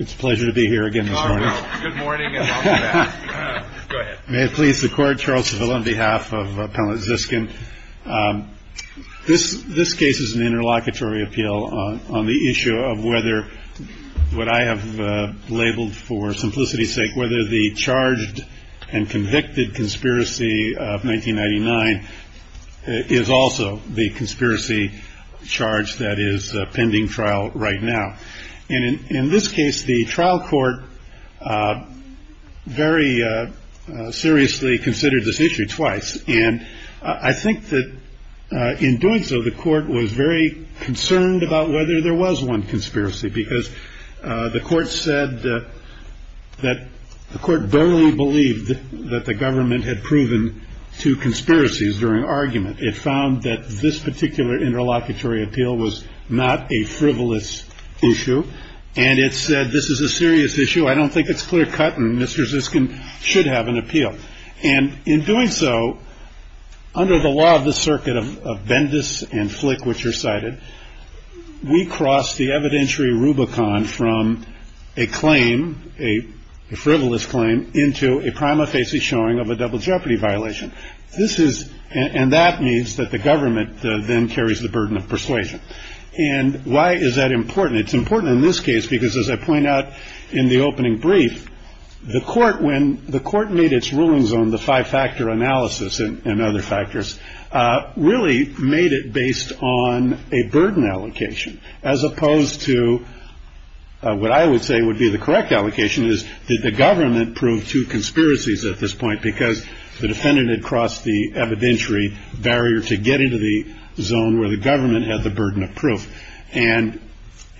It's a pleasure to be here again this morning. May it please the court, Charles Seville on behalf of Appellate Ziskin. This case is an interlocutory appeal on the issue of whether what I have labeled for simplicity's sake, whether the charged and convicted conspiracy of 1999 is also the truth. In this case, the trial court very seriously considered this issue twice. And I think that in doing so, the court was very concerned about whether there was one conspiracy, because the court said that the court barely believed that the government had proven two conspiracies during argument. It found that this particular interlocutory appeal was not a frivolous issue. And it said, this is a serious issue. I don't think it's clear cut. And Mr. Ziskin should have an appeal. And in doing so, under the law of the circuit of Bendis and Flick, which are cited, we cross the evidentiary rubicon from a claim, a frivolous claim, into a prima facie showing of a double jeopardy violation. This is and that means that the And why is that important? It's important in this case, because as I point out in the opening brief, the court, when the court made its rulings on the five-factor analysis and other factors, really made it based on a burden allocation, as opposed to what I would say would be the correct allocation is that the government proved two conspiracies at this point, because the defendant had crossed the burden of proof. And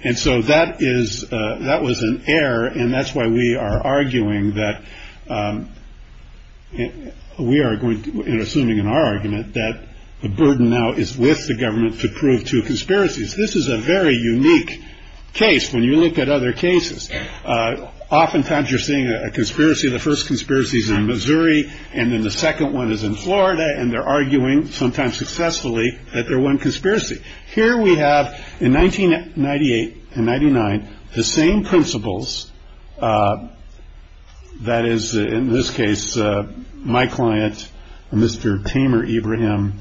and so that is that was an error. And that's why we are arguing that we are going to assuming in our argument that the burden now is with the government to prove two conspiracies. This is a very unique case. When you look at other cases, oftentimes you're seeing a conspiracy. The first conspiracy is in Missouri. And then the second one is in Florida. And they're arguing, sometimes successfully, that they're one conspiracy. Here we have in 1998 and 99, the same principles. That is, in this case, my client, Mr. Tamer, Abraham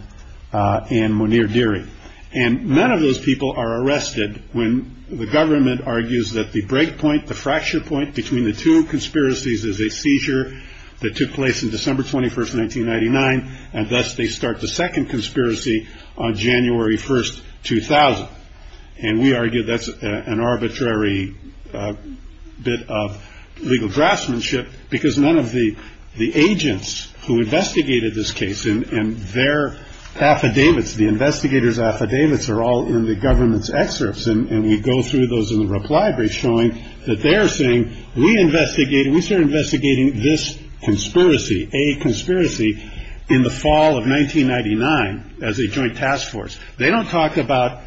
and Muneer Deary. And none of those people are arrested when the government argues that the breakpoint, the fracture point between the two conspiracies is a seizure that took place in December 21st, 1999. And thus they start the second conspiracy on January 1st, 2000. And we argue that's an arbitrary bit of legal draftsmanship because none of the the agents who investigated this case and their affidavits, the investigators affidavits are all in the government's excerpts. And we go through those in the reply brief, showing that they're saying we investigate and we start investigating this conspiracy, a conspiracy in the fall of 1999 as a joint task force. They don't talk about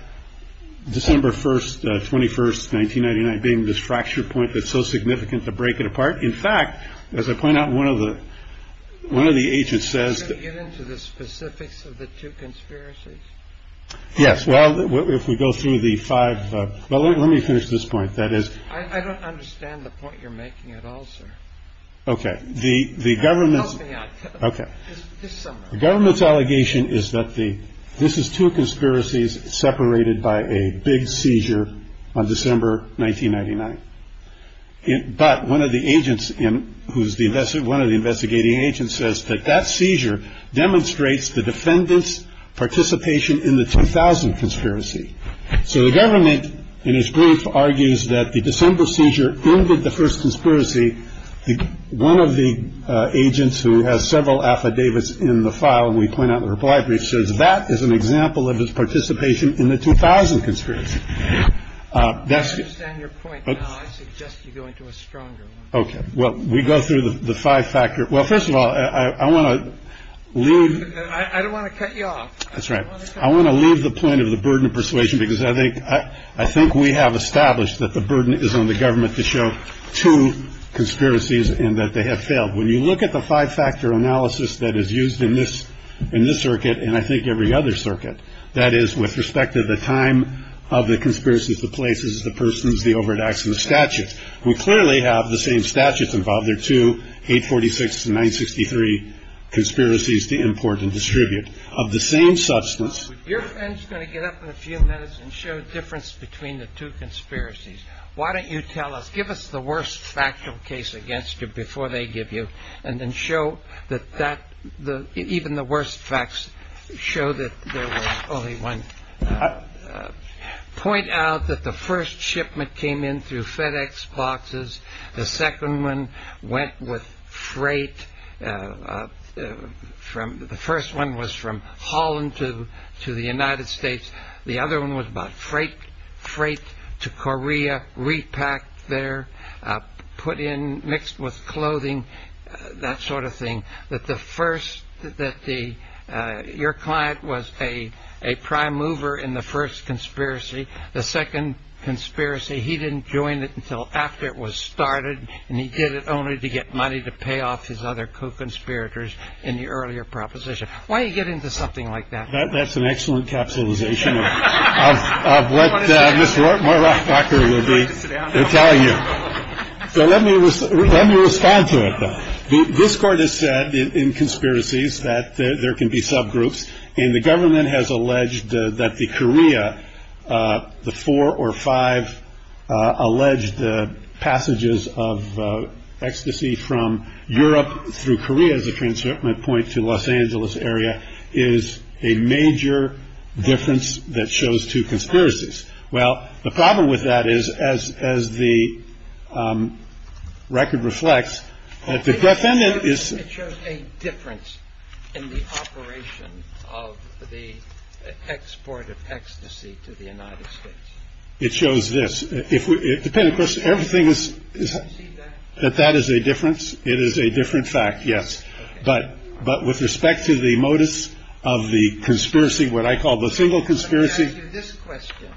December 1st, 21st, 1999, being this fracture point that's so significant to break it apart. In fact, as I point out, one of the one of the agents says to get into the specifics of the two conspiracies. Yes. Well, if we go through the five. Well, let me finish this point. That is, I don't understand the point you're making at all, sir. OK. The the government's OK. The government's allegation is that the this is two conspiracies separated by a big seizure on December 1999. But one of the agents in who's the best one of the investigating agents says that that seizure demonstrates the defendant's participation in the 2000 conspiracy. So the government in his brief argues that the December seizure ended the first conspiracy. One of the agents who has several affidavits in the file and we point out the reply brief says that is an example of his participation in the 2000 conspiracy. That's your point. I suggest you go into a stronger. OK. Well, we go through the five factor. Well, first of all, I want to leave. I don't want to cut you off. That's right. I want to leave the point of the burden of persuasion, because I think I think we have established that the burden is on the government to show two conspiracies and that they have failed. When you look at the five factor analysis that is used in this in this circuit and I think every other circuit, that is with respect to the time of the conspiracies, the places, the persons, the overdose and the statutes. We clearly have the same statutes involved there to 846 to 963 conspiracies to import and distribute of the same substance. You're going to get up in a few minutes and show the difference between the two conspiracies. Why don't you tell us give us the worst factual case against you before they give you and then show that that the even the worst facts show that. There was only one point out that the first shipment came in through FedEx boxes. The second one went with freight from the first one was from Holland to to the United States. The other one was about freight, freight to Korea, repack there, put in mixed with clothing, that sort of thing. That the first that the your client was a a prime mover in the first conspiracy. The second conspiracy, he didn't join it until after it was started. And he did it only to get money to pay off his other co-conspirators in the earlier proposition. Why don't you get into something like that? That's an excellent capitalization. Of what Mr. Walker will be telling you. So let me let me respond to it. This court has said in conspiracies that there can be subgroups in the government has alleged that the Korea, the four or five alleged passages of ecstasy from Europe through Korea as a Angeles area is a major difference. That shows two conspiracies. Well, the problem with that is, as as the record reflects, the defendant is a difference in the operation of the export of ecstasy to the United States. It shows this. If we depend, of course, everything is that that is a difference. It is a different fact. Yes. But but with respect to the modus of the conspiracy, what I call the single conspiracy. This question.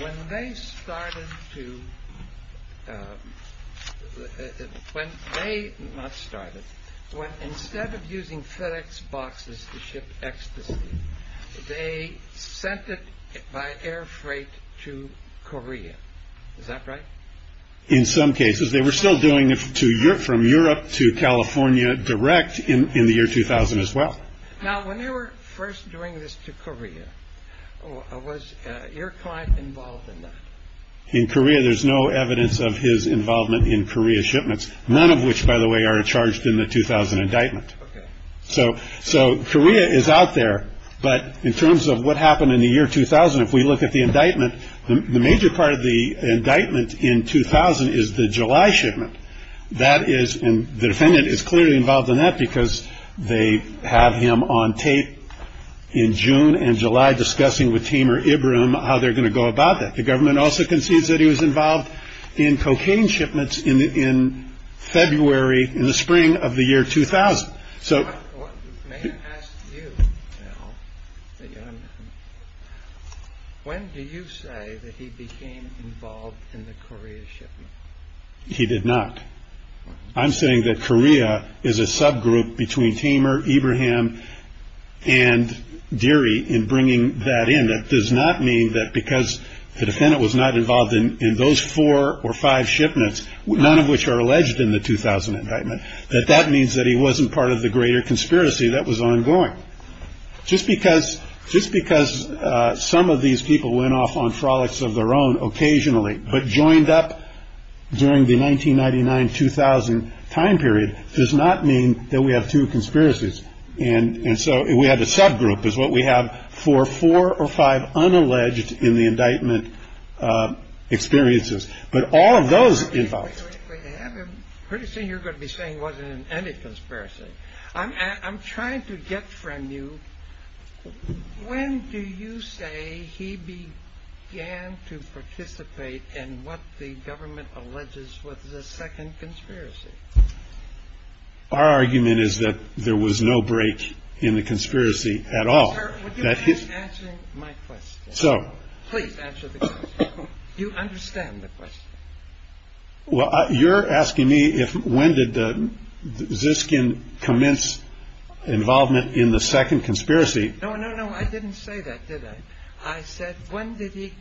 When they started to when they started, when instead of using FedEx boxes to ship ecstasy, they sent it by air freight to Korea. Is that right? In some cases, they were still doing it to Europe, from Europe to California direct in the year 2000 as well. Now, when they were first doing this to Korea, I was your client involved in that in Korea. There's no evidence of his involvement in Korea shipments, none of which, by the way, are charged in the 2000 indictment. So. So Korea is out there. But in terms of what happened in the year 2000, if we look at the indictment, the major part of the indictment in 2000 is the July shipment. That is. And the defendant is clearly involved in that because they have him on tape in June and July, discussing with Tamer Ibram how they're going to go about that. The government also concedes that he was involved in cocaine shipments in February, in the spring of the year 2000. So when do you say that he became involved in the Korea shipment? He did not. I'm saying that Korea is a subgroup between Tamer, Ibrahim and Deary in bringing that in. That does not mean that because the defendant was not involved in those four or five shipments, none of which are alleged in the 2000 indictment, that that means that he wasn't part of the greater conspiracy that was ongoing. Just because just because some of these people went off on frolics of their own occasionally, but joined up during the 1999 2000 time period does not mean that we have two conspiracies. And so we had a subgroup is what we have for four or five unalleged in the indictment experiences. But all of those involved. Pretty soon you're going to be saying wasn't any conspiracy. I'm I'm trying to get from you. When do you say he began to participate in what the government alleges was the second conspiracy? Our argument is that there was no break in the conspiracy at all. So you understand the question. Well, you're asking me if when did the Ziskin commence involvement in the second conspiracy? No, no, no. I didn't say that. Did I? I said when did he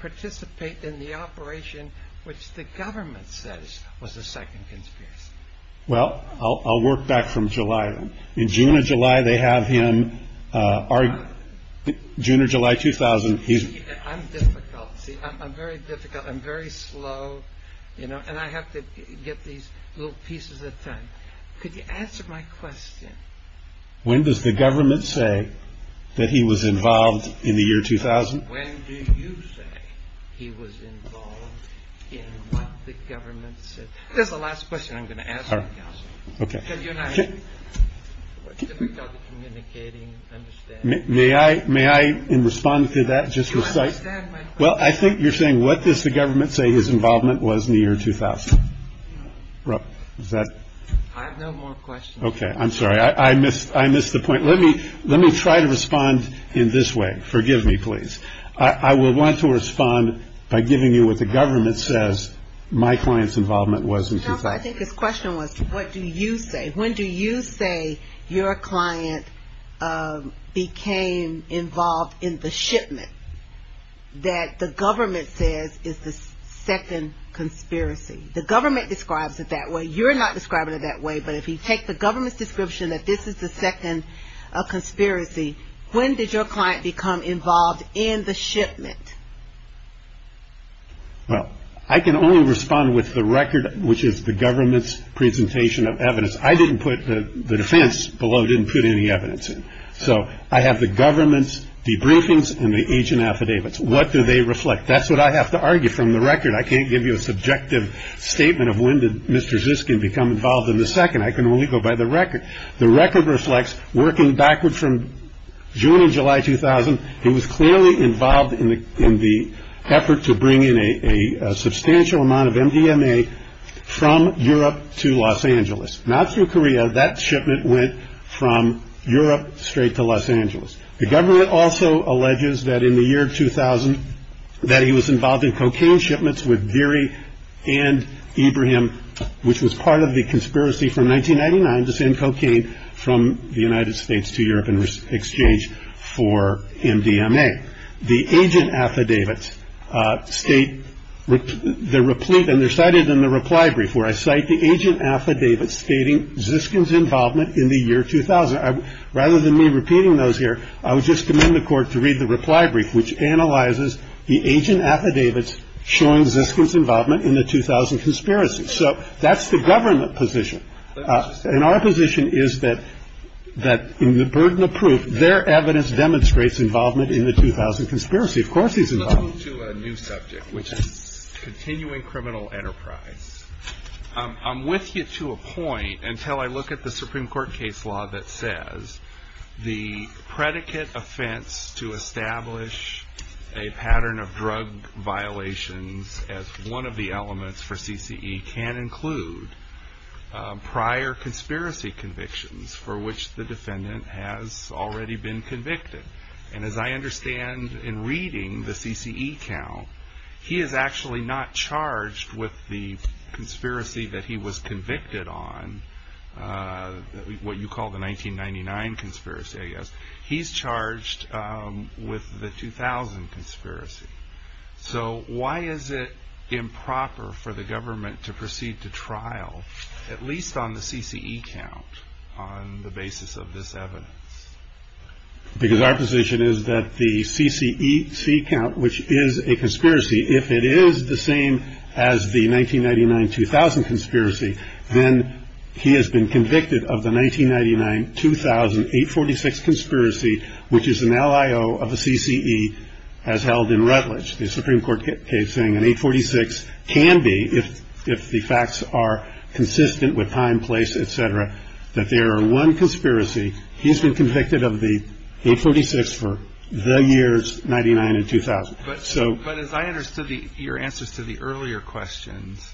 participate in the operation which the government says was the second conspiracy? Well, I'll work back from July in June and July. They have him are June or July 2000. He's I'm difficult. I'm very difficult. I'm very slow. You know, and I have to get these little pieces of time. Could you answer my question? When does the government say that he was involved in the year 2000? When did you say he was involved in the government? This is the last question I'm going to ask. OK. Difficult communicating. May I may I respond to that? Just like that. Well, I think you're saying what does the government say his involvement was in the year 2000? I have no more questions. OK, I'm sorry. I missed I missed the point. Let me let me try to respond in this way. Forgive me, please. I will want to respond by giving you what the government says. My client's involvement wasn't. I think his question was, what do you say? When do you say your client became involved in the shipment that the government says is the second conspiracy? The government describes it that way. You're not describing it that way. But if you take the government's description that this is the second conspiracy, when did your client become involved in the shipment? Well, I can only respond with the record, which is the government's presentation of evidence. I didn't put the defense below, didn't put any evidence in. So I have the government's debriefings and the agent affidavits. What do they reflect? That's what I have to argue from the record. I can't give you a subjective statement of when did Mr. Ziskin become involved in the second. I can only go by the record. The record reflects working backward from June and July 2000. He was clearly involved in the in the effort to bring in a substantial amount of MDMA from Europe to Los Angeles. Not through Korea. That shipment went from Europe straight to Los Angeles. The government also alleges that in the year 2000, that he was involved in cocaine shipments with Deary and Ibrahim, which was part of the conspiracy from 1999 to send cocaine from the United States to Europe in exchange for MDMA. The agent affidavits state the replete and they're cited in the reply brief where I cite the agent affidavits stating Ziskin's involvement in the year 2000. Rather than me repeating those here, I would just commend the court to read the reply brief, which analyzes the agent affidavits showing Ziskin's involvement in the 2000 conspiracy. So that's the government position. And our position is that that in the burden of proof, their evidence demonstrates involvement in the 2000 conspiracy. Of course, he's involved to a new subject, which is continuing criminal enterprise. I'm with you to a point until I look at the Supreme Court case law that says the predicate offense to establish a pattern of drug violations as one of the elements for CCE can include prior conspiracy convictions for which the defendant has already been convicted. And as I understand in reading the CCE count, he is actually not charged with the conspiracy that he was convicted on, what you call the 1999 conspiracy, I guess. He's charged with the 2000 conspiracy. So why is it improper for the government to proceed to trial, at least on the CCE count, on the basis of this evidence? Because our position is that the CCE count, which is a conspiracy, if it is the same as the 1999-2000 conspiracy, then he has been convicted of the 1999-2000-846 conspiracy, which is an LIO of the CCE, as held in Rutledge. The Supreme Court case saying an 846 can be, if the facts are consistent with time, place, et cetera, that there are one conspiracy. He's been convicted of the 846 for the years 1999 and 2000. But as I understood your answers to the earlier questions,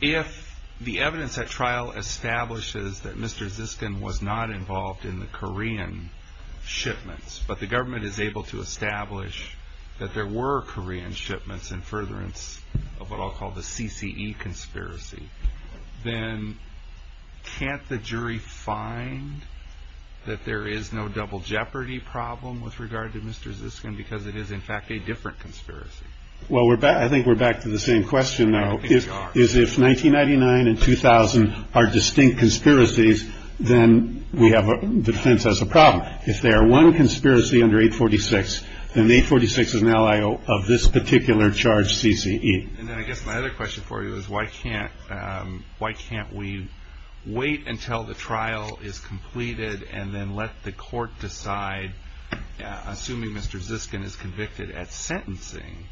if the evidence at trial establishes that Mr. Ziskin was not involved in the Korean shipments, but the government is able to establish that there were Korean shipments in furtherance of what I'll call the CCE conspiracy, then can't the jury find that there is no double jeopardy problem with regard to Mr. Ziskin because it is, in fact, a different conspiracy? Well, I think we're back to the same question now. If 1999 and 2000 are distinct conspiracies, then we have a defense as a problem. If there are one conspiracy under 846, then 846 is an LIO of this particular charged CCE. And then I guess my other question for you is, why can't why can't we wait until the trial is completed and then let the court decide, assuming Mr. Ziskin is convicted at sentencing,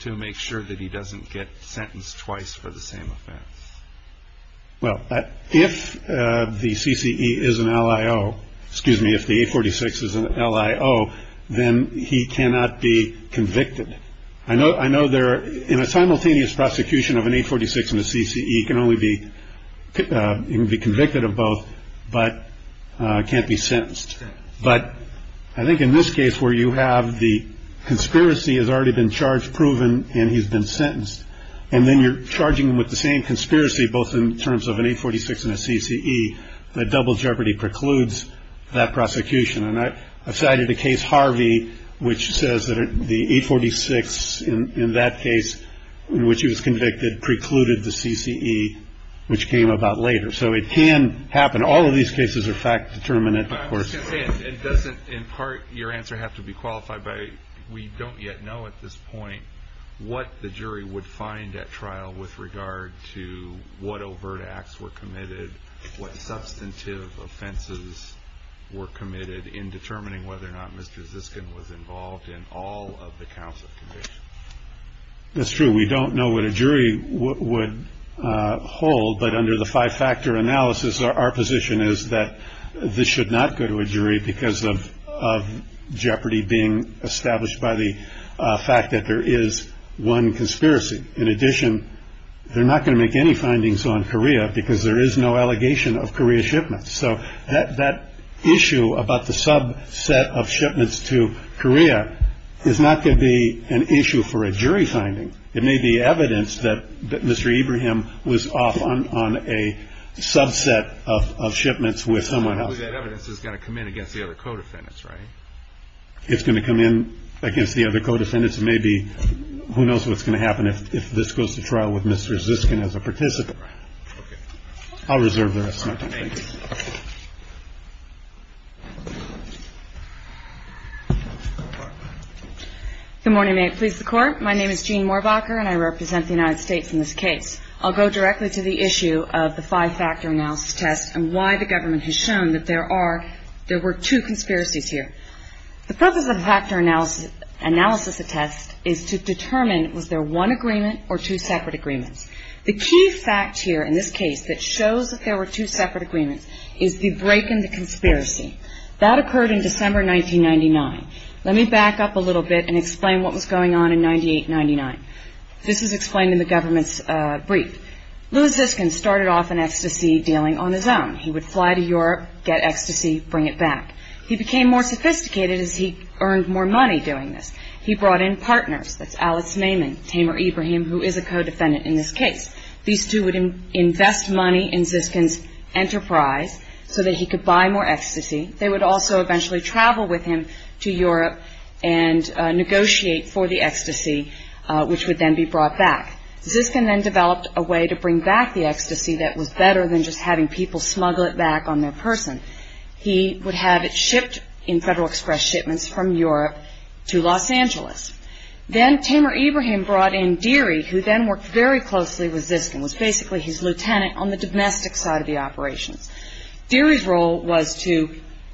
to make sure that he doesn't get sentenced twice for the same offense? Well, if the CCE is an LIO, excuse me, if the 846 is an LIO, then he cannot be convicted. I know I know they're in a simultaneous prosecution of an 846 and a CCE can only be convicted of both, but can't be sentenced. But I think in this case where you have the conspiracy has already been charged, proven, and he's been sentenced, and then you're charging him with the same conspiracy, both in terms of an 846 and a CCE, that double jeopardy precludes that prosecution. And I cited the case Harvey, which says that the 846 in that case in which he was convicted precluded the CCE, which came about later. So it can happen. All of these cases are fact determinate. But I'm just going to say, it doesn't in part your answer have to be qualified, but we don't yet know at this point what the jury would find at trial with regard to what overt acts were committed, what substantive offenses were committed in determining whether or not Mr. Ziskin was involved in all of the counts of conviction. That's true. We don't know what a jury would hold. But under the five factor analysis, our position is that this should not go to a jury because of jeopardy being established by the fact that there is one conspiracy. In addition, they're not going to make any findings on Korea because there is no allegation of Korea shipments. So that issue about the subset of shipments to Korea is not going to be an issue for a jury finding. It may be evidence that Mr. Ibrahim was off on a subset of shipments with someone else. That evidence is going to come in against the other co-defendants, right? It's going to come in against the other co-defendants. It may be, who knows what's going to happen if this goes to trial with Mr. Ziskin as a participant. I'll reserve the rest of my time. Good morning. May it please the Court. My name is Jean Morbacher and I represent the United States in this case. I'll go directly to the issue of the five factor analysis test and why the government has shown that there are, there were two conspiracies here. The purpose of the factor analysis test is to determine was there one agreement or two separate agreements. The key fact here in this case that shows that there were two separate agreements is the break in the conspiracy. That occurred in December 1999. Let me back up a little bit and explain what was going on in 98-99. This is explained in the government's brief. Louis Ziskin started off an ecstasy dealing on his own. He would fly to Europe, get ecstasy, bring it back. He became more sophisticated as he earned more money doing this. He brought in partners. That's Alex Naiman, Tamer Ibrahim, who is a co-defendant in this case. These two would invest money in Ziskin's enterprise so that he could buy more ecstasy. They would also eventually travel with him to Europe and negotiate for the ecstasy, which would then be brought back. Ziskin then developed a way to bring back the ecstasy that was better than just having people smuggle it back on their person. He would have it shipped in Federal Express shipments from Europe to Los Angeles. Then Tamer Ibrahim brought in Deary, who then worked very closely with Ziskin, was basically his lieutenant on the domestic side of the operations. Deary's role was to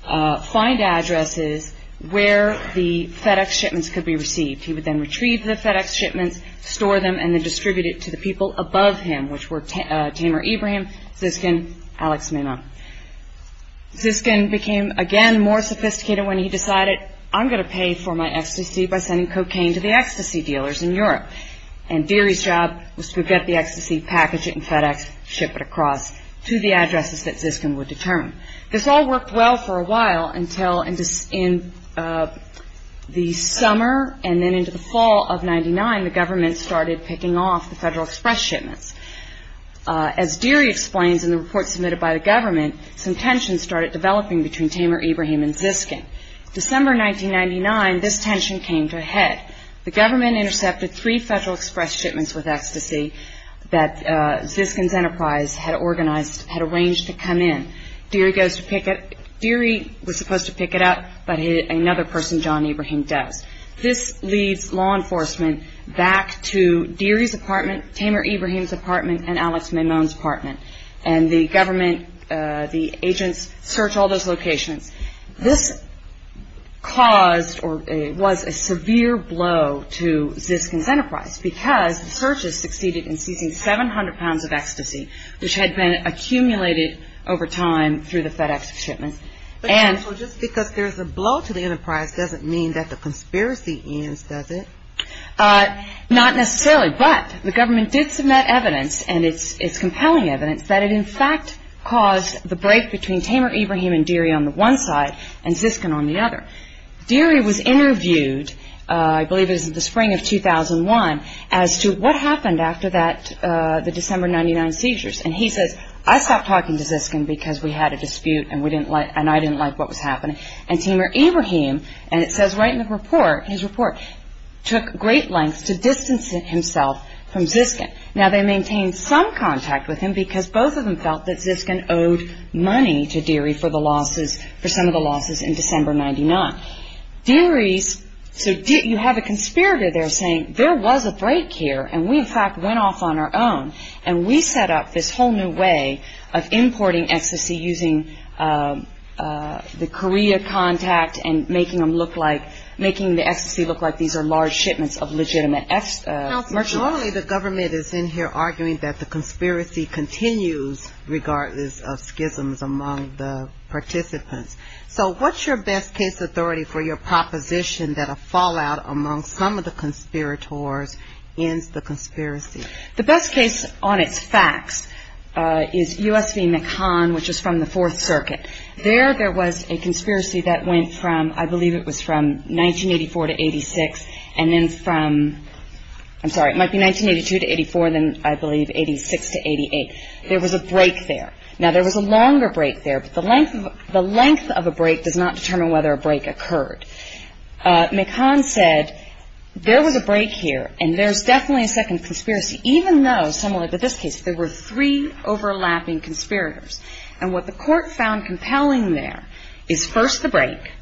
find addresses where the FedEx shipments could be received. He would then retrieve the FedEx shipments, store them, and then distribute it to the people above him, which were Tamer Ibrahim, Ziskin, Alex Naiman. Ziskin became, again, more sophisticated when he decided, I'm going to pay for my ecstasy by sending cocaine to the ecstasy dealers in Europe. And Deary's job was to get the ecstasy, package it in FedEx, ship it across to the addresses that Ziskin would determine. This all worked well for a while until in the summer and then into the fall of 1999, the government started picking off the Federal Express shipments. As Deary explains in the report submitted by the government, some tensions started developing between Tamer Ibrahim and Ziskin. December 1999, this tension came to a head. The government intercepted three Federal Express shipments with ecstasy that Ziskin's enterprise had arranged to come in. Deary was supposed to pick it up, but another person, John Ibrahim, does. This leads law enforcement back to Deary's apartment, Tamer Ibrahim's apartment, and Alex Naiman's apartment. And the government, the agents, search all those locations. This caused or was a severe blow to Ziskin's enterprise because the searches succeeded in seizing 700 pounds of ecstasy, which had been accumulated over time through the FedEx shipments. So just because there's a blow to the enterprise doesn't mean that the conspiracy ends, does it? Not necessarily, but the government did submit evidence, and it's compelling evidence, that it in fact caused the break between Tamer Ibrahim and Deary on the one side and Ziskin on the other. Deary was interviewed, I believe it was in the spring of 2001, as to what happened after the December 1999 seizures. And he says, I stopped talking to Ziskin because we had a dispute and I didn't like what was happening. And Tamer Ibrahim, and it says right in the report, his report, took great lengths to distance himself from Ziskin. Now they maintained some contact with him because both of them felt that Ziskin owed money to Deary for some of the losses in December 1999. Deary's, so you have a conspirator there saying there was a break here and we in fact went off on our own, and we set up this whole new way of importing ecstasy using the Korea contact and making the ecstasy look like these are large shipments of legitimate merchandise. Normally the government is in here arguing that the conspiracy continues, regardless of schisms among the participants. So what's your best case authority for your proposition that a fallout among some of the conspirators ends the conspiracy? The best case on its facts is U.S. v. McCann, which is from the Fourth Circuit. There there was a conspiracy that went from, I believe it was from 1984 to 86, and then from, I'm sorry, it might be 1982 to 84, and then I believe 86 to 88. There was a break there. Now there was a longer break there, but the length of a break does not determine whether a break occurred. McCann said there was a break here and there's definitely a second conspiracy, even though, similar to this case, there were three overlapping conspirators. And what the court found compelling there is first the break,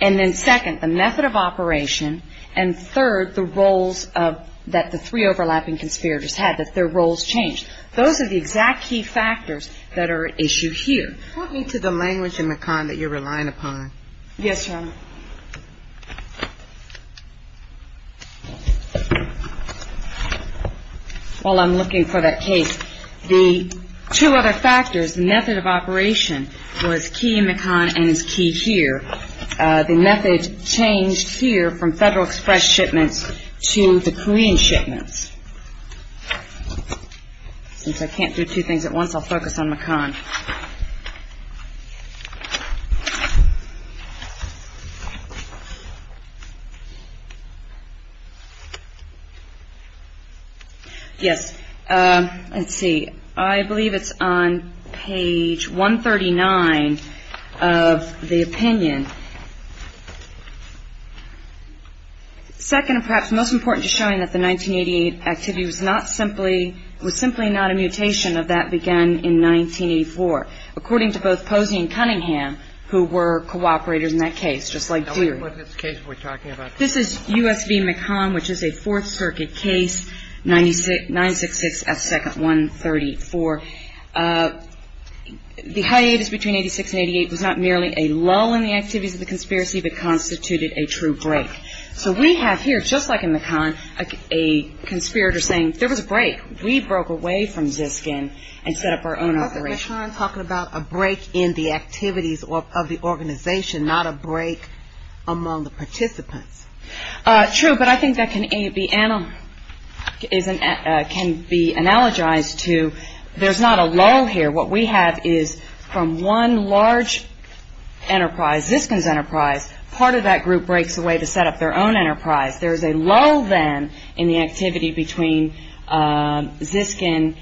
and then second the method of operation, and third the roles that the three overlapping conspirators had, that their roles changed. Those are the exact key factors that are at issue here. Talk me to the language in McCann that you're relying upon. Yes, Your Honor. While I'm looking for that case, the two other factors, method of operation, was key in McCann and is key here. The method changed here from Federal Express shipments to the Korean shipments. Since I can't do two things at once, I'll focus on McCann. Yes, let's see. I believe it's on page 139 of the opinion. Second, and perhaps most important, is showing that the 1988 activity was not simply ñ was simply not a mutation of that began in 1984, according to both Posey and Cunningham, who were cooperators in that case, just like Dewey. And what's this case we're talking about? This is U.S. v. McCann, which is a Fourth Circuit case, 966 S. 2nd 134. The hiatus between 86 and 88 was not merely a lull in the activities of the conspiracy, but constituted a true break. So we have here, just like in McCann, a conspirator saying there was a break. We broke away from ZISCN and set up our own operation. That's McCann talking about a break in the activities of the organization, not a break among the participants. True, but I think that can be analogized to there's not a lull here. What we have is from one large enterprise, ZISCN's enterprise, part of that group breaks away to set up their own enterprise. There's a lull, then, in the activity between ZISCN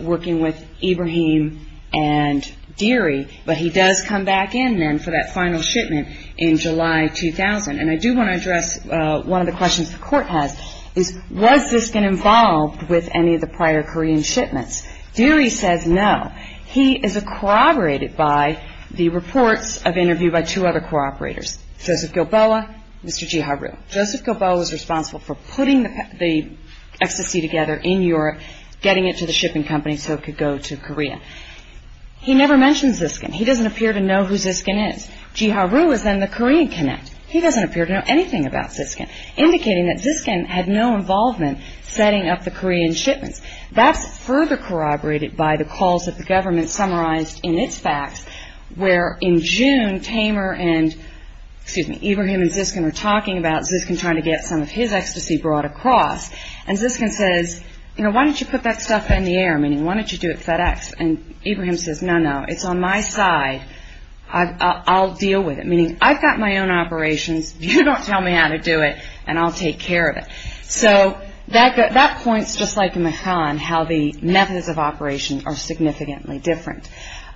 working with Ibrahim and Dewey. But he does come back in, then, for that final shipment in July 2000. And I do want to address one of the questions the Court has, was ZISCN involved with any of the prior Korean shipments? Dewey says no. He is corroborated by the reports of interview by two other co-operators, Joseph Gilboa and Mr. Ji Haru. Joseph Gilboa was responsible for putting the FCC together in Europe, getting it to the shipping company so it could go to Korea. He never mentions ZISCN. He doesn't appear to know who ZISCN is. Ji Haru is, then, the Korean connect. He doesn't appear to know anything about ZISCN, indicating that ZISCN had no involvement setting up the Korean shipments. That's further corroborated by the calls that the government summarized in its facts, where in June, Tamer and, excuse me, Ibrahim and ZISCN are talking about ZISCN trying to get some of his ecstasy brought across. And ZISCN says, you know, why don't you put that stuff in the air? Meaning, why don't you do it FedEx? And Ibrahim says, no, no, it's on my side. I'll deal with it. Meaning, I've got my own operations. You don't tell me how to do it, and I'll take care of it. So that points, just like McCann, how the methods of operation are significantly different.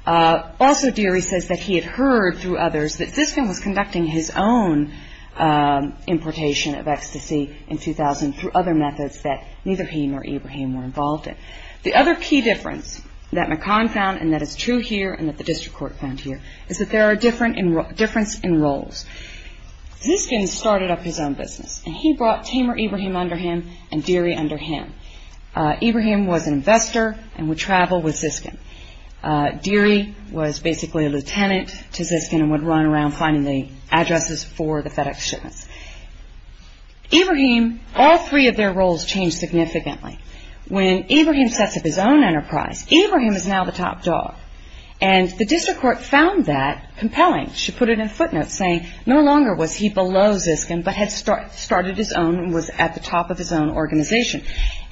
Also, Deary says that he had heard through others that ZISCN was conducting his own importation of ecstasy in 2000 through other methods that neither he nor Ibrahim were involved in. The other key difference that McCann found and that is true here and that the district court found here is that there are differences in roles. ZISCN started up his own business, and he brought Tamer Ibrahim under him and Deary under him. Ibrahim was an investor and would travel with ZISCN. Deary was basically a lieutenant to ZISCN and would run around finding the addresses for the FedEx shipments. Ibrahim, all three of their roles changed significantly. When Ibrahim sets up his own enterprise, Ibrahim is now the top dog. And the district court found that compelling. She put it in footnotes saying no longer was he below ZISCN but had started his own and was at the top of his own organization.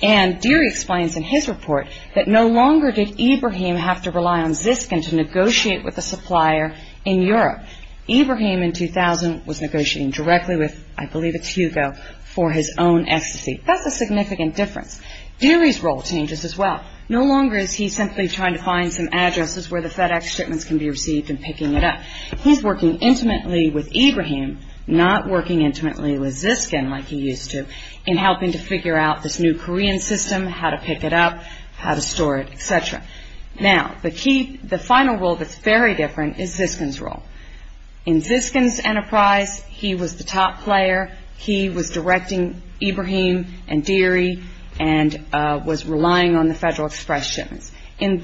And Deary explains in his report that no longer did Ibrahim have to rely on ZISCN to negotiate with a supplier in Europe. Ibrahim in 2000 was negotiating directly with, I believe it's Hugo, for his own ecstasy. That's a significant difference. Deary's role changes as well. No longer is he simply trying to find some addresses where the FedEx shipments can be received and picking it up. He's working intimately with Ibrahim, not working intimately with ZISCN like he used to, in helping to figure out this new Korean system, how to pick it up, how to store it, etc. Now, the final role that's very different is ZISCN's role. In ZISCN's enterprise, he was the top player. He was directing Ibrahim and Deary and was relying on the Federal Express shipments. In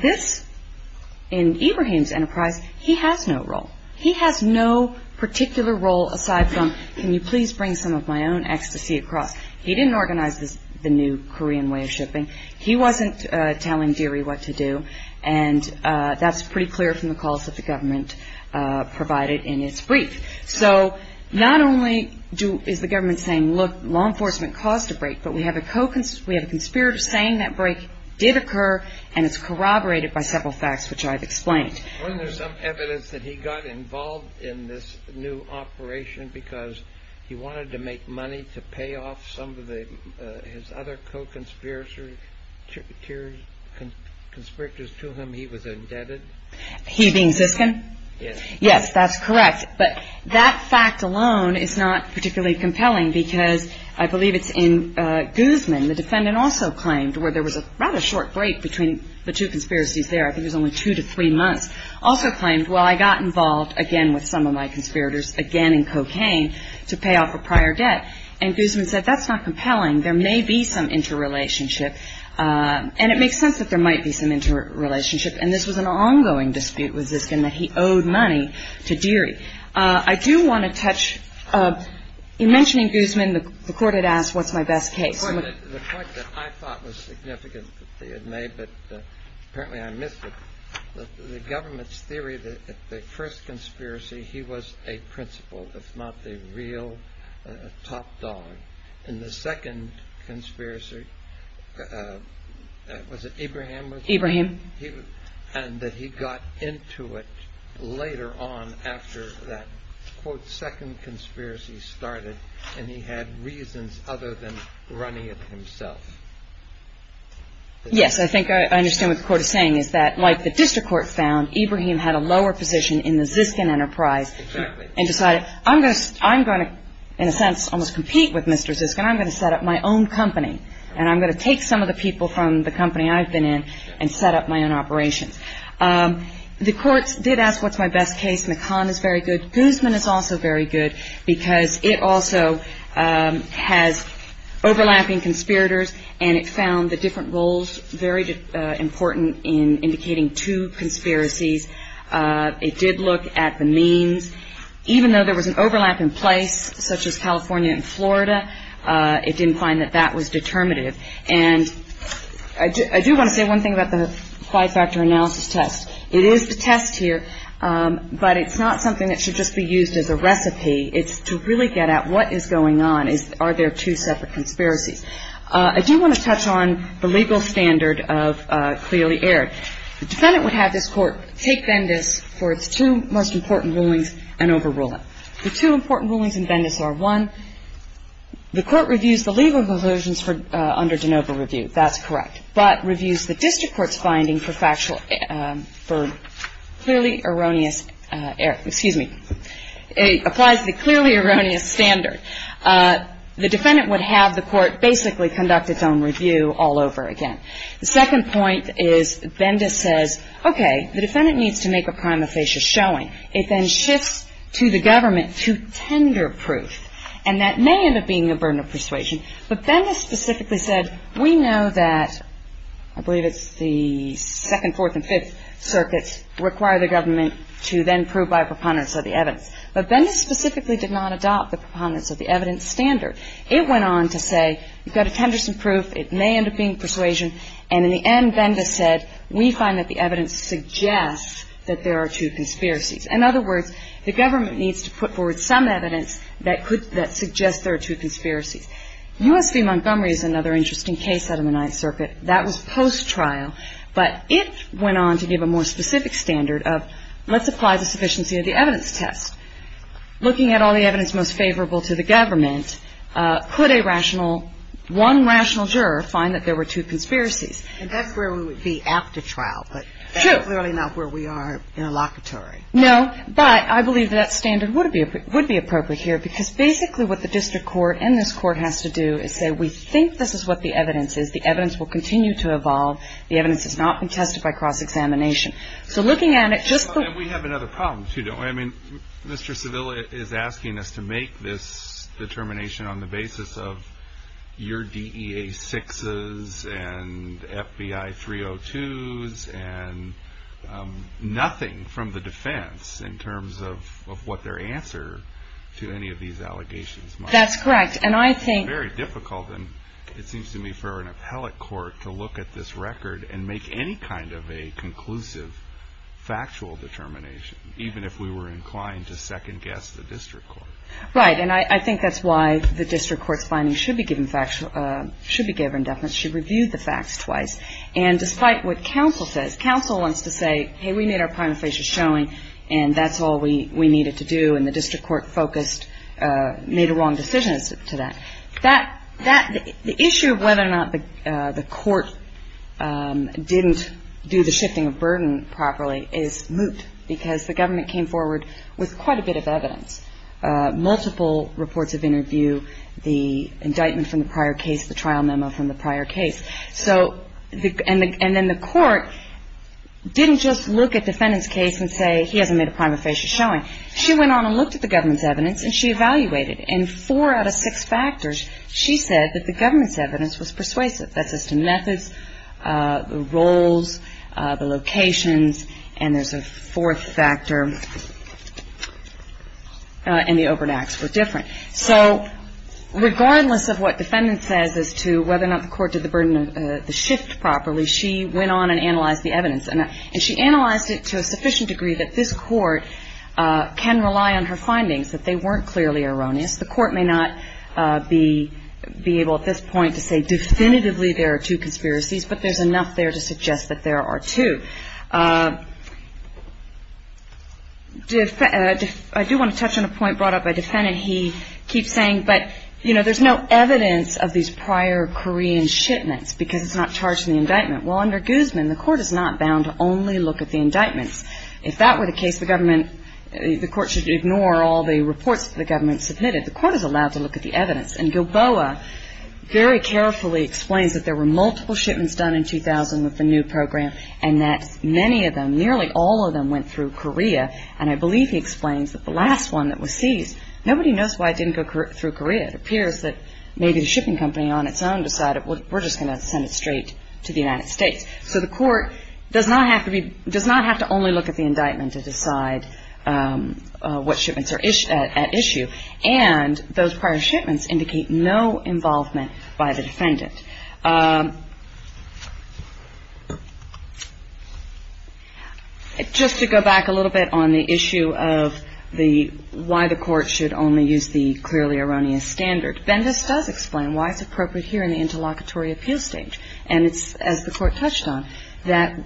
Ibrahim's enterprise, he has no role. He has no particular role aside from, can you please bring some of my own ecstasy across? He didn't organize the new Korean way of shipping. He wasn't telling Deary what to do, and that's pretty clear from the calls that the government provided in its brief. So not only is the government saying, look, law enforcement caused a break, but we have a conspirator saying that break did occur and it's corroborated by several facts which I've explained. Weren't there some evidence that he got involved in this new operation because he wanted to make money to pay off some of his other co-conspirators to whom he was indebted? He being ZISCN? Yes. Yes, that's correct. But that fact alone is not particularly compelling because I believe it's in Guzman, the defendant also claimed, where there was a rather short break between the two conspiracies there, I think it was only two to three months, also claimed, well, I got involved again with some of my conspirators, again in cocaine, to pay off a prior debt. And Guzman said that's not compelling. There may be some interrelationship, and it makes sense that there might be some interrelationship, and this was an ongoing dispute with ZISCN that he owed money to Deary. I do want to touch, in mentioning Guzman, the Court had asked what's my best case. The point that I thought was significant that they had made, but apparently I missed it, the government's theory that the first conspiracy he was a principal, if not the real top dog, and the second conspiracy, was it Ibrahim? Ibrahim. And that he got into it later on after that, quote, second conspiracy started, and he had reasons other than running it himself. Yes, I think I understand what the Court is saying, is that like the district court found, Ibrahim had a lower position in the ZISCN enterprise and decided, I'm going to, in a sense, almost compete with Mr. ZISCN. I'm going to set up my own company, and I'm going to take some of the people from the company I've been in and set up my own operations. The Court did ask what's my best case. McCann is very good. Guzman is also very good, because it also has overlapping conspirators, and it found the different roles very important in indicating two conspiracies. It did look at the means, even though there was an overlap in place, such as California and Florida, it didn't find that that was determinative. And I do want to say one thing about the five-factor analysis test. It is the test here, but it's not something that should just be used as a recipe. It's to really get at what is going on. Are there two separate conspiracies? I do want to touch on the legal standard of clearly aired. The defendant would have this Court take Vendis for its two most important rulings and overrule it. The two important rulings in Vendis are, one, the Court reviews the legal provisions under de novo review. That's correct. But reviews the district court's finding for clearly erroneous air. Excuse me. It applies the clearly erroneous standard. The defendant would have the Court basically conduct its own review all over again. The second point is Vendis says, okay, the defendant needs to make a prima facie showing. And then it shifts to the government to tender proof. And that may end up being a burden of persuasion. But Vendis specifically said, we know that I believe it's the second, fourth, and fifth circuits require the government to then prove by preponderance of the evidence. But Vendis specifically did not adopt the preponderance of the evidence standard. It went on to say, you've got a Tenderson proof, it may end up being persuasion. And in the end, Vendis said, we find that the evidence suggests that there are two conspiracies. In other words, the government needs to put forward some evidence that suggests there are two conspiracies. U.S. v. Montgomery is another interesting case out of the Ninth Circuit. That was post-trial. But it went on to give a more specific standard of let's apply the sufficiency of the evidence test. Looking at all the evidence most favorable to the government, could a rational, one rational juror find that there were two conspiracies? And that's where we would be after trial. True. But that's clearly not where we are in a locatory. No. But I believe that standard would be appropriate here, because basically what the district court and this court has to do is say, we think this is what the evidence is. The evidence will continue to evolve. The evidence has not been tested by cross-examination. And we have another problem, too, don't we? I mean, Mr. Sevilla is asking us to make this determination on the basis of your DEA-6s and FBI-302s and nothing from the defense in terms of what their answer to any of these allegations might be. That's correct. And I think it's very difficult, and it seems to me, for an appellate court to look at this record and make any kind of a conclusive, factual determination, even if we were inclined to second-guess the district court. Right. And I think that's why the district court's finding should be given factual – should be given definite. She reviewed the facts twice. And despite what counsel says, counsel wants to say, hey, we made our prima facie showing, and that's all we needed to do, and the district court focused – made a wrong decision to that. The issue of whether or not the court didn't do the shifting of burden properly is moot, because the government came forward with quite a bit of evidence, multiple reports of interview, the indictment from the prior case, the trial memo from the prior case. And then the court didn't just look at the defendant's case and say, he hasn't made a prima facie showing. She went on and looked at the government's evidence, and she evaluated. And four out of six factors, she said that the government's evidence was persuasive. That's as to methods, the roles, the locations, and there's a fourth factor, and the open acts were different. So regardless of what defendant says as to whether or not the court did the shift properly, she went on and analyzed the evidence. And she analyzed it to a sufficient degree that this court can rely on her findings, that they weren't clearly erroneous. The court may not be able at this point to say definitively there are two conspiracies, but there's enough there to suggest that there are two. I do want to touch on a point brought up by defendant. He keeps saying, but, you know, there's no evidence of these prior Korean shipments, because it's not charged in the indictment. Well, under Guzman, the court is not bound to only look at the indictments. If that were the case, the government, the court should ignore all the reports that the government submitted. The court is allowed to look at the evidence. And Gilboa very carefully explains that there were multiple shipments done in 2000 with the new program, and that many of them, nearly all of them, went through Korea. And I believe he explains that the last one that was seized, nobody knows why it didn't go through Korea. It appears that maybe the shipping company on its own decided, well, we're just going to send it straight to the United States. So the court does not have to only look at the indictment to decide what shipments are at issue. And those prior shipments indicate no involvement by the defendant. Just to go back a little bit on the issue of why the court should only use the clearly erroneous standard, Bendis does explain why it's appropriate here in the interlocutory appeal stage. And it's, as the court touched on, that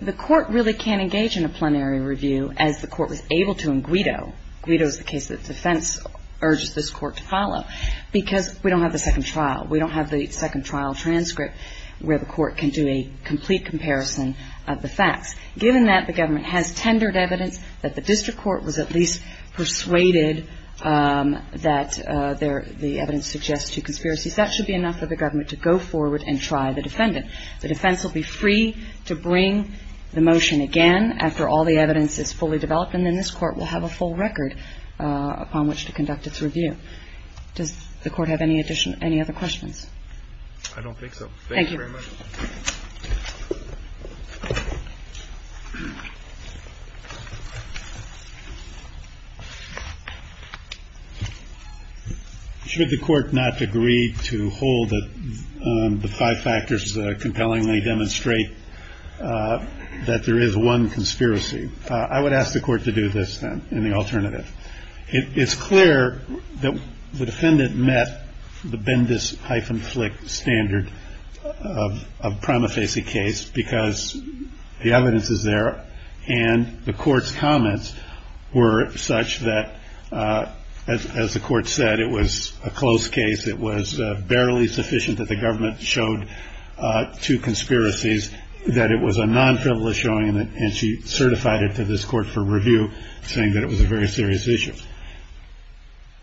the court really can't engage in a plenary review, as the court was able to in Guido. Guido is the case that defense urges this court to follow, because we don't have the second trial. We don't have the second trial transcript where the court can do a complete comparison of the facts. Given that, the government has tendered evidence that the district court was at least persuaded that the evidence suggests two conspiracies, that should be enough for the government to go forward and try the defendant. The defense will be free to bring the motion again after all the evidence is fully developed, and then this court will have a full record upon which to conduct its review. Does the court have any other questions? I don't think so. Thank you very much. Should the court not agree to hold that the five factors compellingly demonstrate that there is one conspiracy? I would ask the court to do this, then, in the alternative. It's clear that the defendant met the bendis hyphen flick standard of prima facie case, because the evidence is there, and the court's comments were such that, as the court said, it was a close case, it was barely sufficient that the government showed two conspiracies, that it was a non-frivolous showing, and she certified it to this court for review, saying that it was a very serious issue.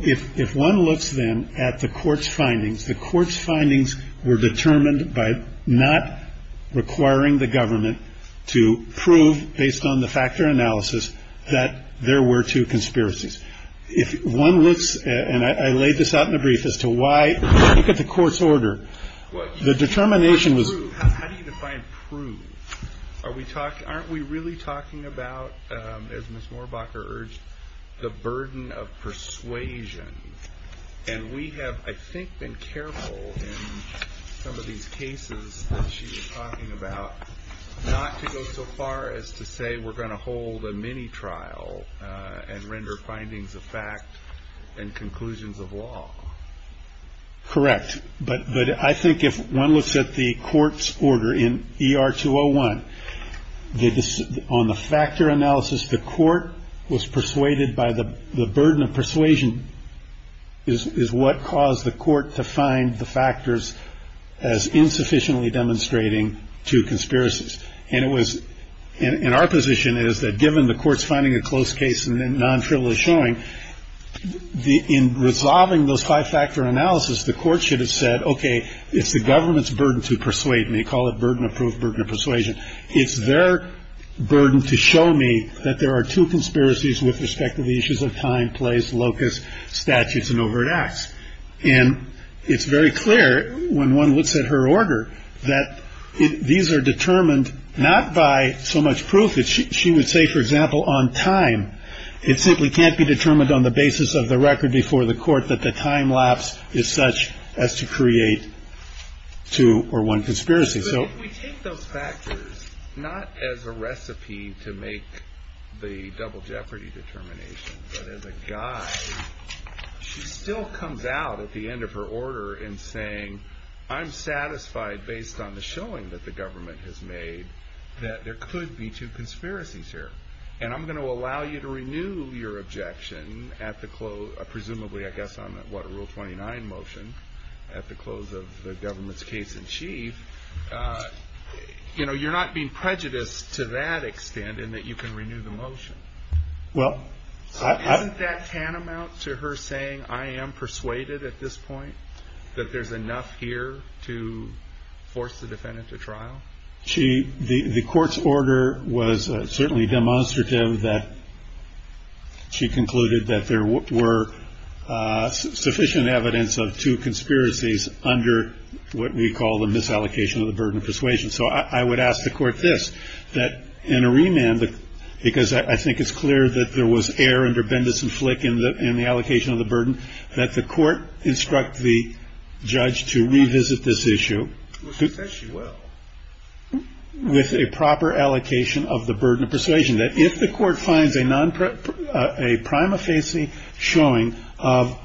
If one looks, then, at the court's findings, the court's findings were determined by not requiring the government to prove, based on the factor analysis, that there were two conspiracies. If one looks, and I laid this out in a brief, as to why look at the court's order, the determination was... How do you define prove? Aren't we really talking about, as Ms. Mohrbacher urged, the burden of persuasion? And we have, I think, been careful in some of these cases that she was talking about, not to go so far as to say we're going to hold a mini-trial and render findings of fact and conclusions of law. Correct. But I think if one looks at the court's order in ER-201, on the factor analysis, the court was persuaded by the burden of persuasion is what caused the court to find the factors as insufficiently demonstrating two conspiracies. And it was... And our position is that given the court's finding a close case and non-frivolous showing, in resolving those five-factor analysis, the court should have said, okay, it's the government's burden to persuade me. Call it burden of proof, burden of persuasion. It's their burden to show me that there are two conspiracies with respect to the issues of time, place, locus, statutes, and overt acts. And it's very clear, when one looks at her order, that these are determined not by so much proof that she would say, for example, on time. It simply can't be determined on the basis of the record before the court that the time lapse is such as to create two or one conspiracy. So if we take those factors, not as a recipe to make the double jeopardy determination, but as a guide, she still comes out at the end of her order in saying, I'm satisfied based on the showing that the government has made that there could be two conspiracies here. And I'm going to allow you to renew your objection, presumably, I guess, on what, a Rule 29 motion at the close of the government's case in chief. You know, you're not being prejudiced to that extent in that you can renew the motion. Isn't that tantamount to her saying, I am persuaded at this point that there's enough here to force the defendant to trial? The court's order was certainly demonstrative that she concluded that there were sufficient evidence of two conspiracies under what we call the misallocation of the burden of persuasion. So I would ask the court this, that in a remand, because I think it's clear that there was error under Bendis and Flick in the allocation of the burden, that the court instruct the judge to revisit this issue. Well, she says she will. With a proper allocation of the burden of persuasion, that if the court finds a prima facie showing of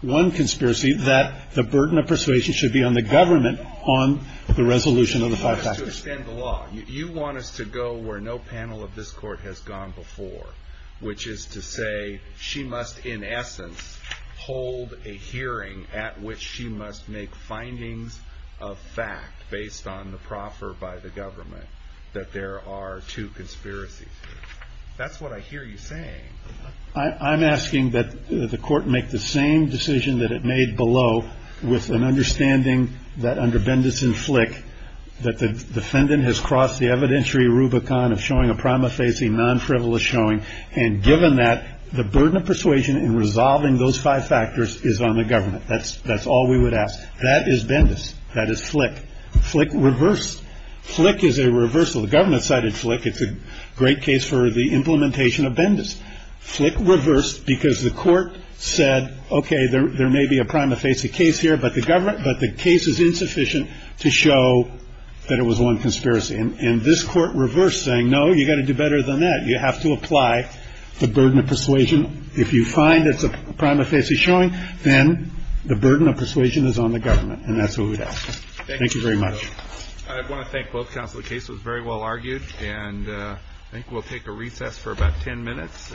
one conspiracy, that the burden of persuasion should be on the government on the resolution of the five factors. To extend the law, you want us to go where no panel of this court has gone before, which is to say she must, in essence, hold a hearing at which she must make findings of fact based on the proffer by the government that there are two conspiracies. That's what I hear you saying. I'm asking that the court make the same decision that it made below with an understanding that under Bendis and Flick, that the defendant has crossed the evidentiary rubicon of showing a prima facie non-frivolous showing, and given that, the burden of persuasion in resolving those five factors is on the government. That's all we would ask. That is Bendis. That is Flick. Flick reversed. Flick is a reversal. The government cited Flick. It's a great case for the implementation of Bendis. Flick reversed because the court said, okay, there may be a prima facie case here, but the case is insufficient to show that it was one conspiracy. And this court reversed, saying, no, you've got to do better than that. You have to apply the burden of persuasion. If you find it's a prima facie showing, then the burden of persuasion is on the government. And that's what we'd ask. Thank you very much. I want to thank both counsel. The case was very well argued. And I think we'll take a recess for about ten minutes.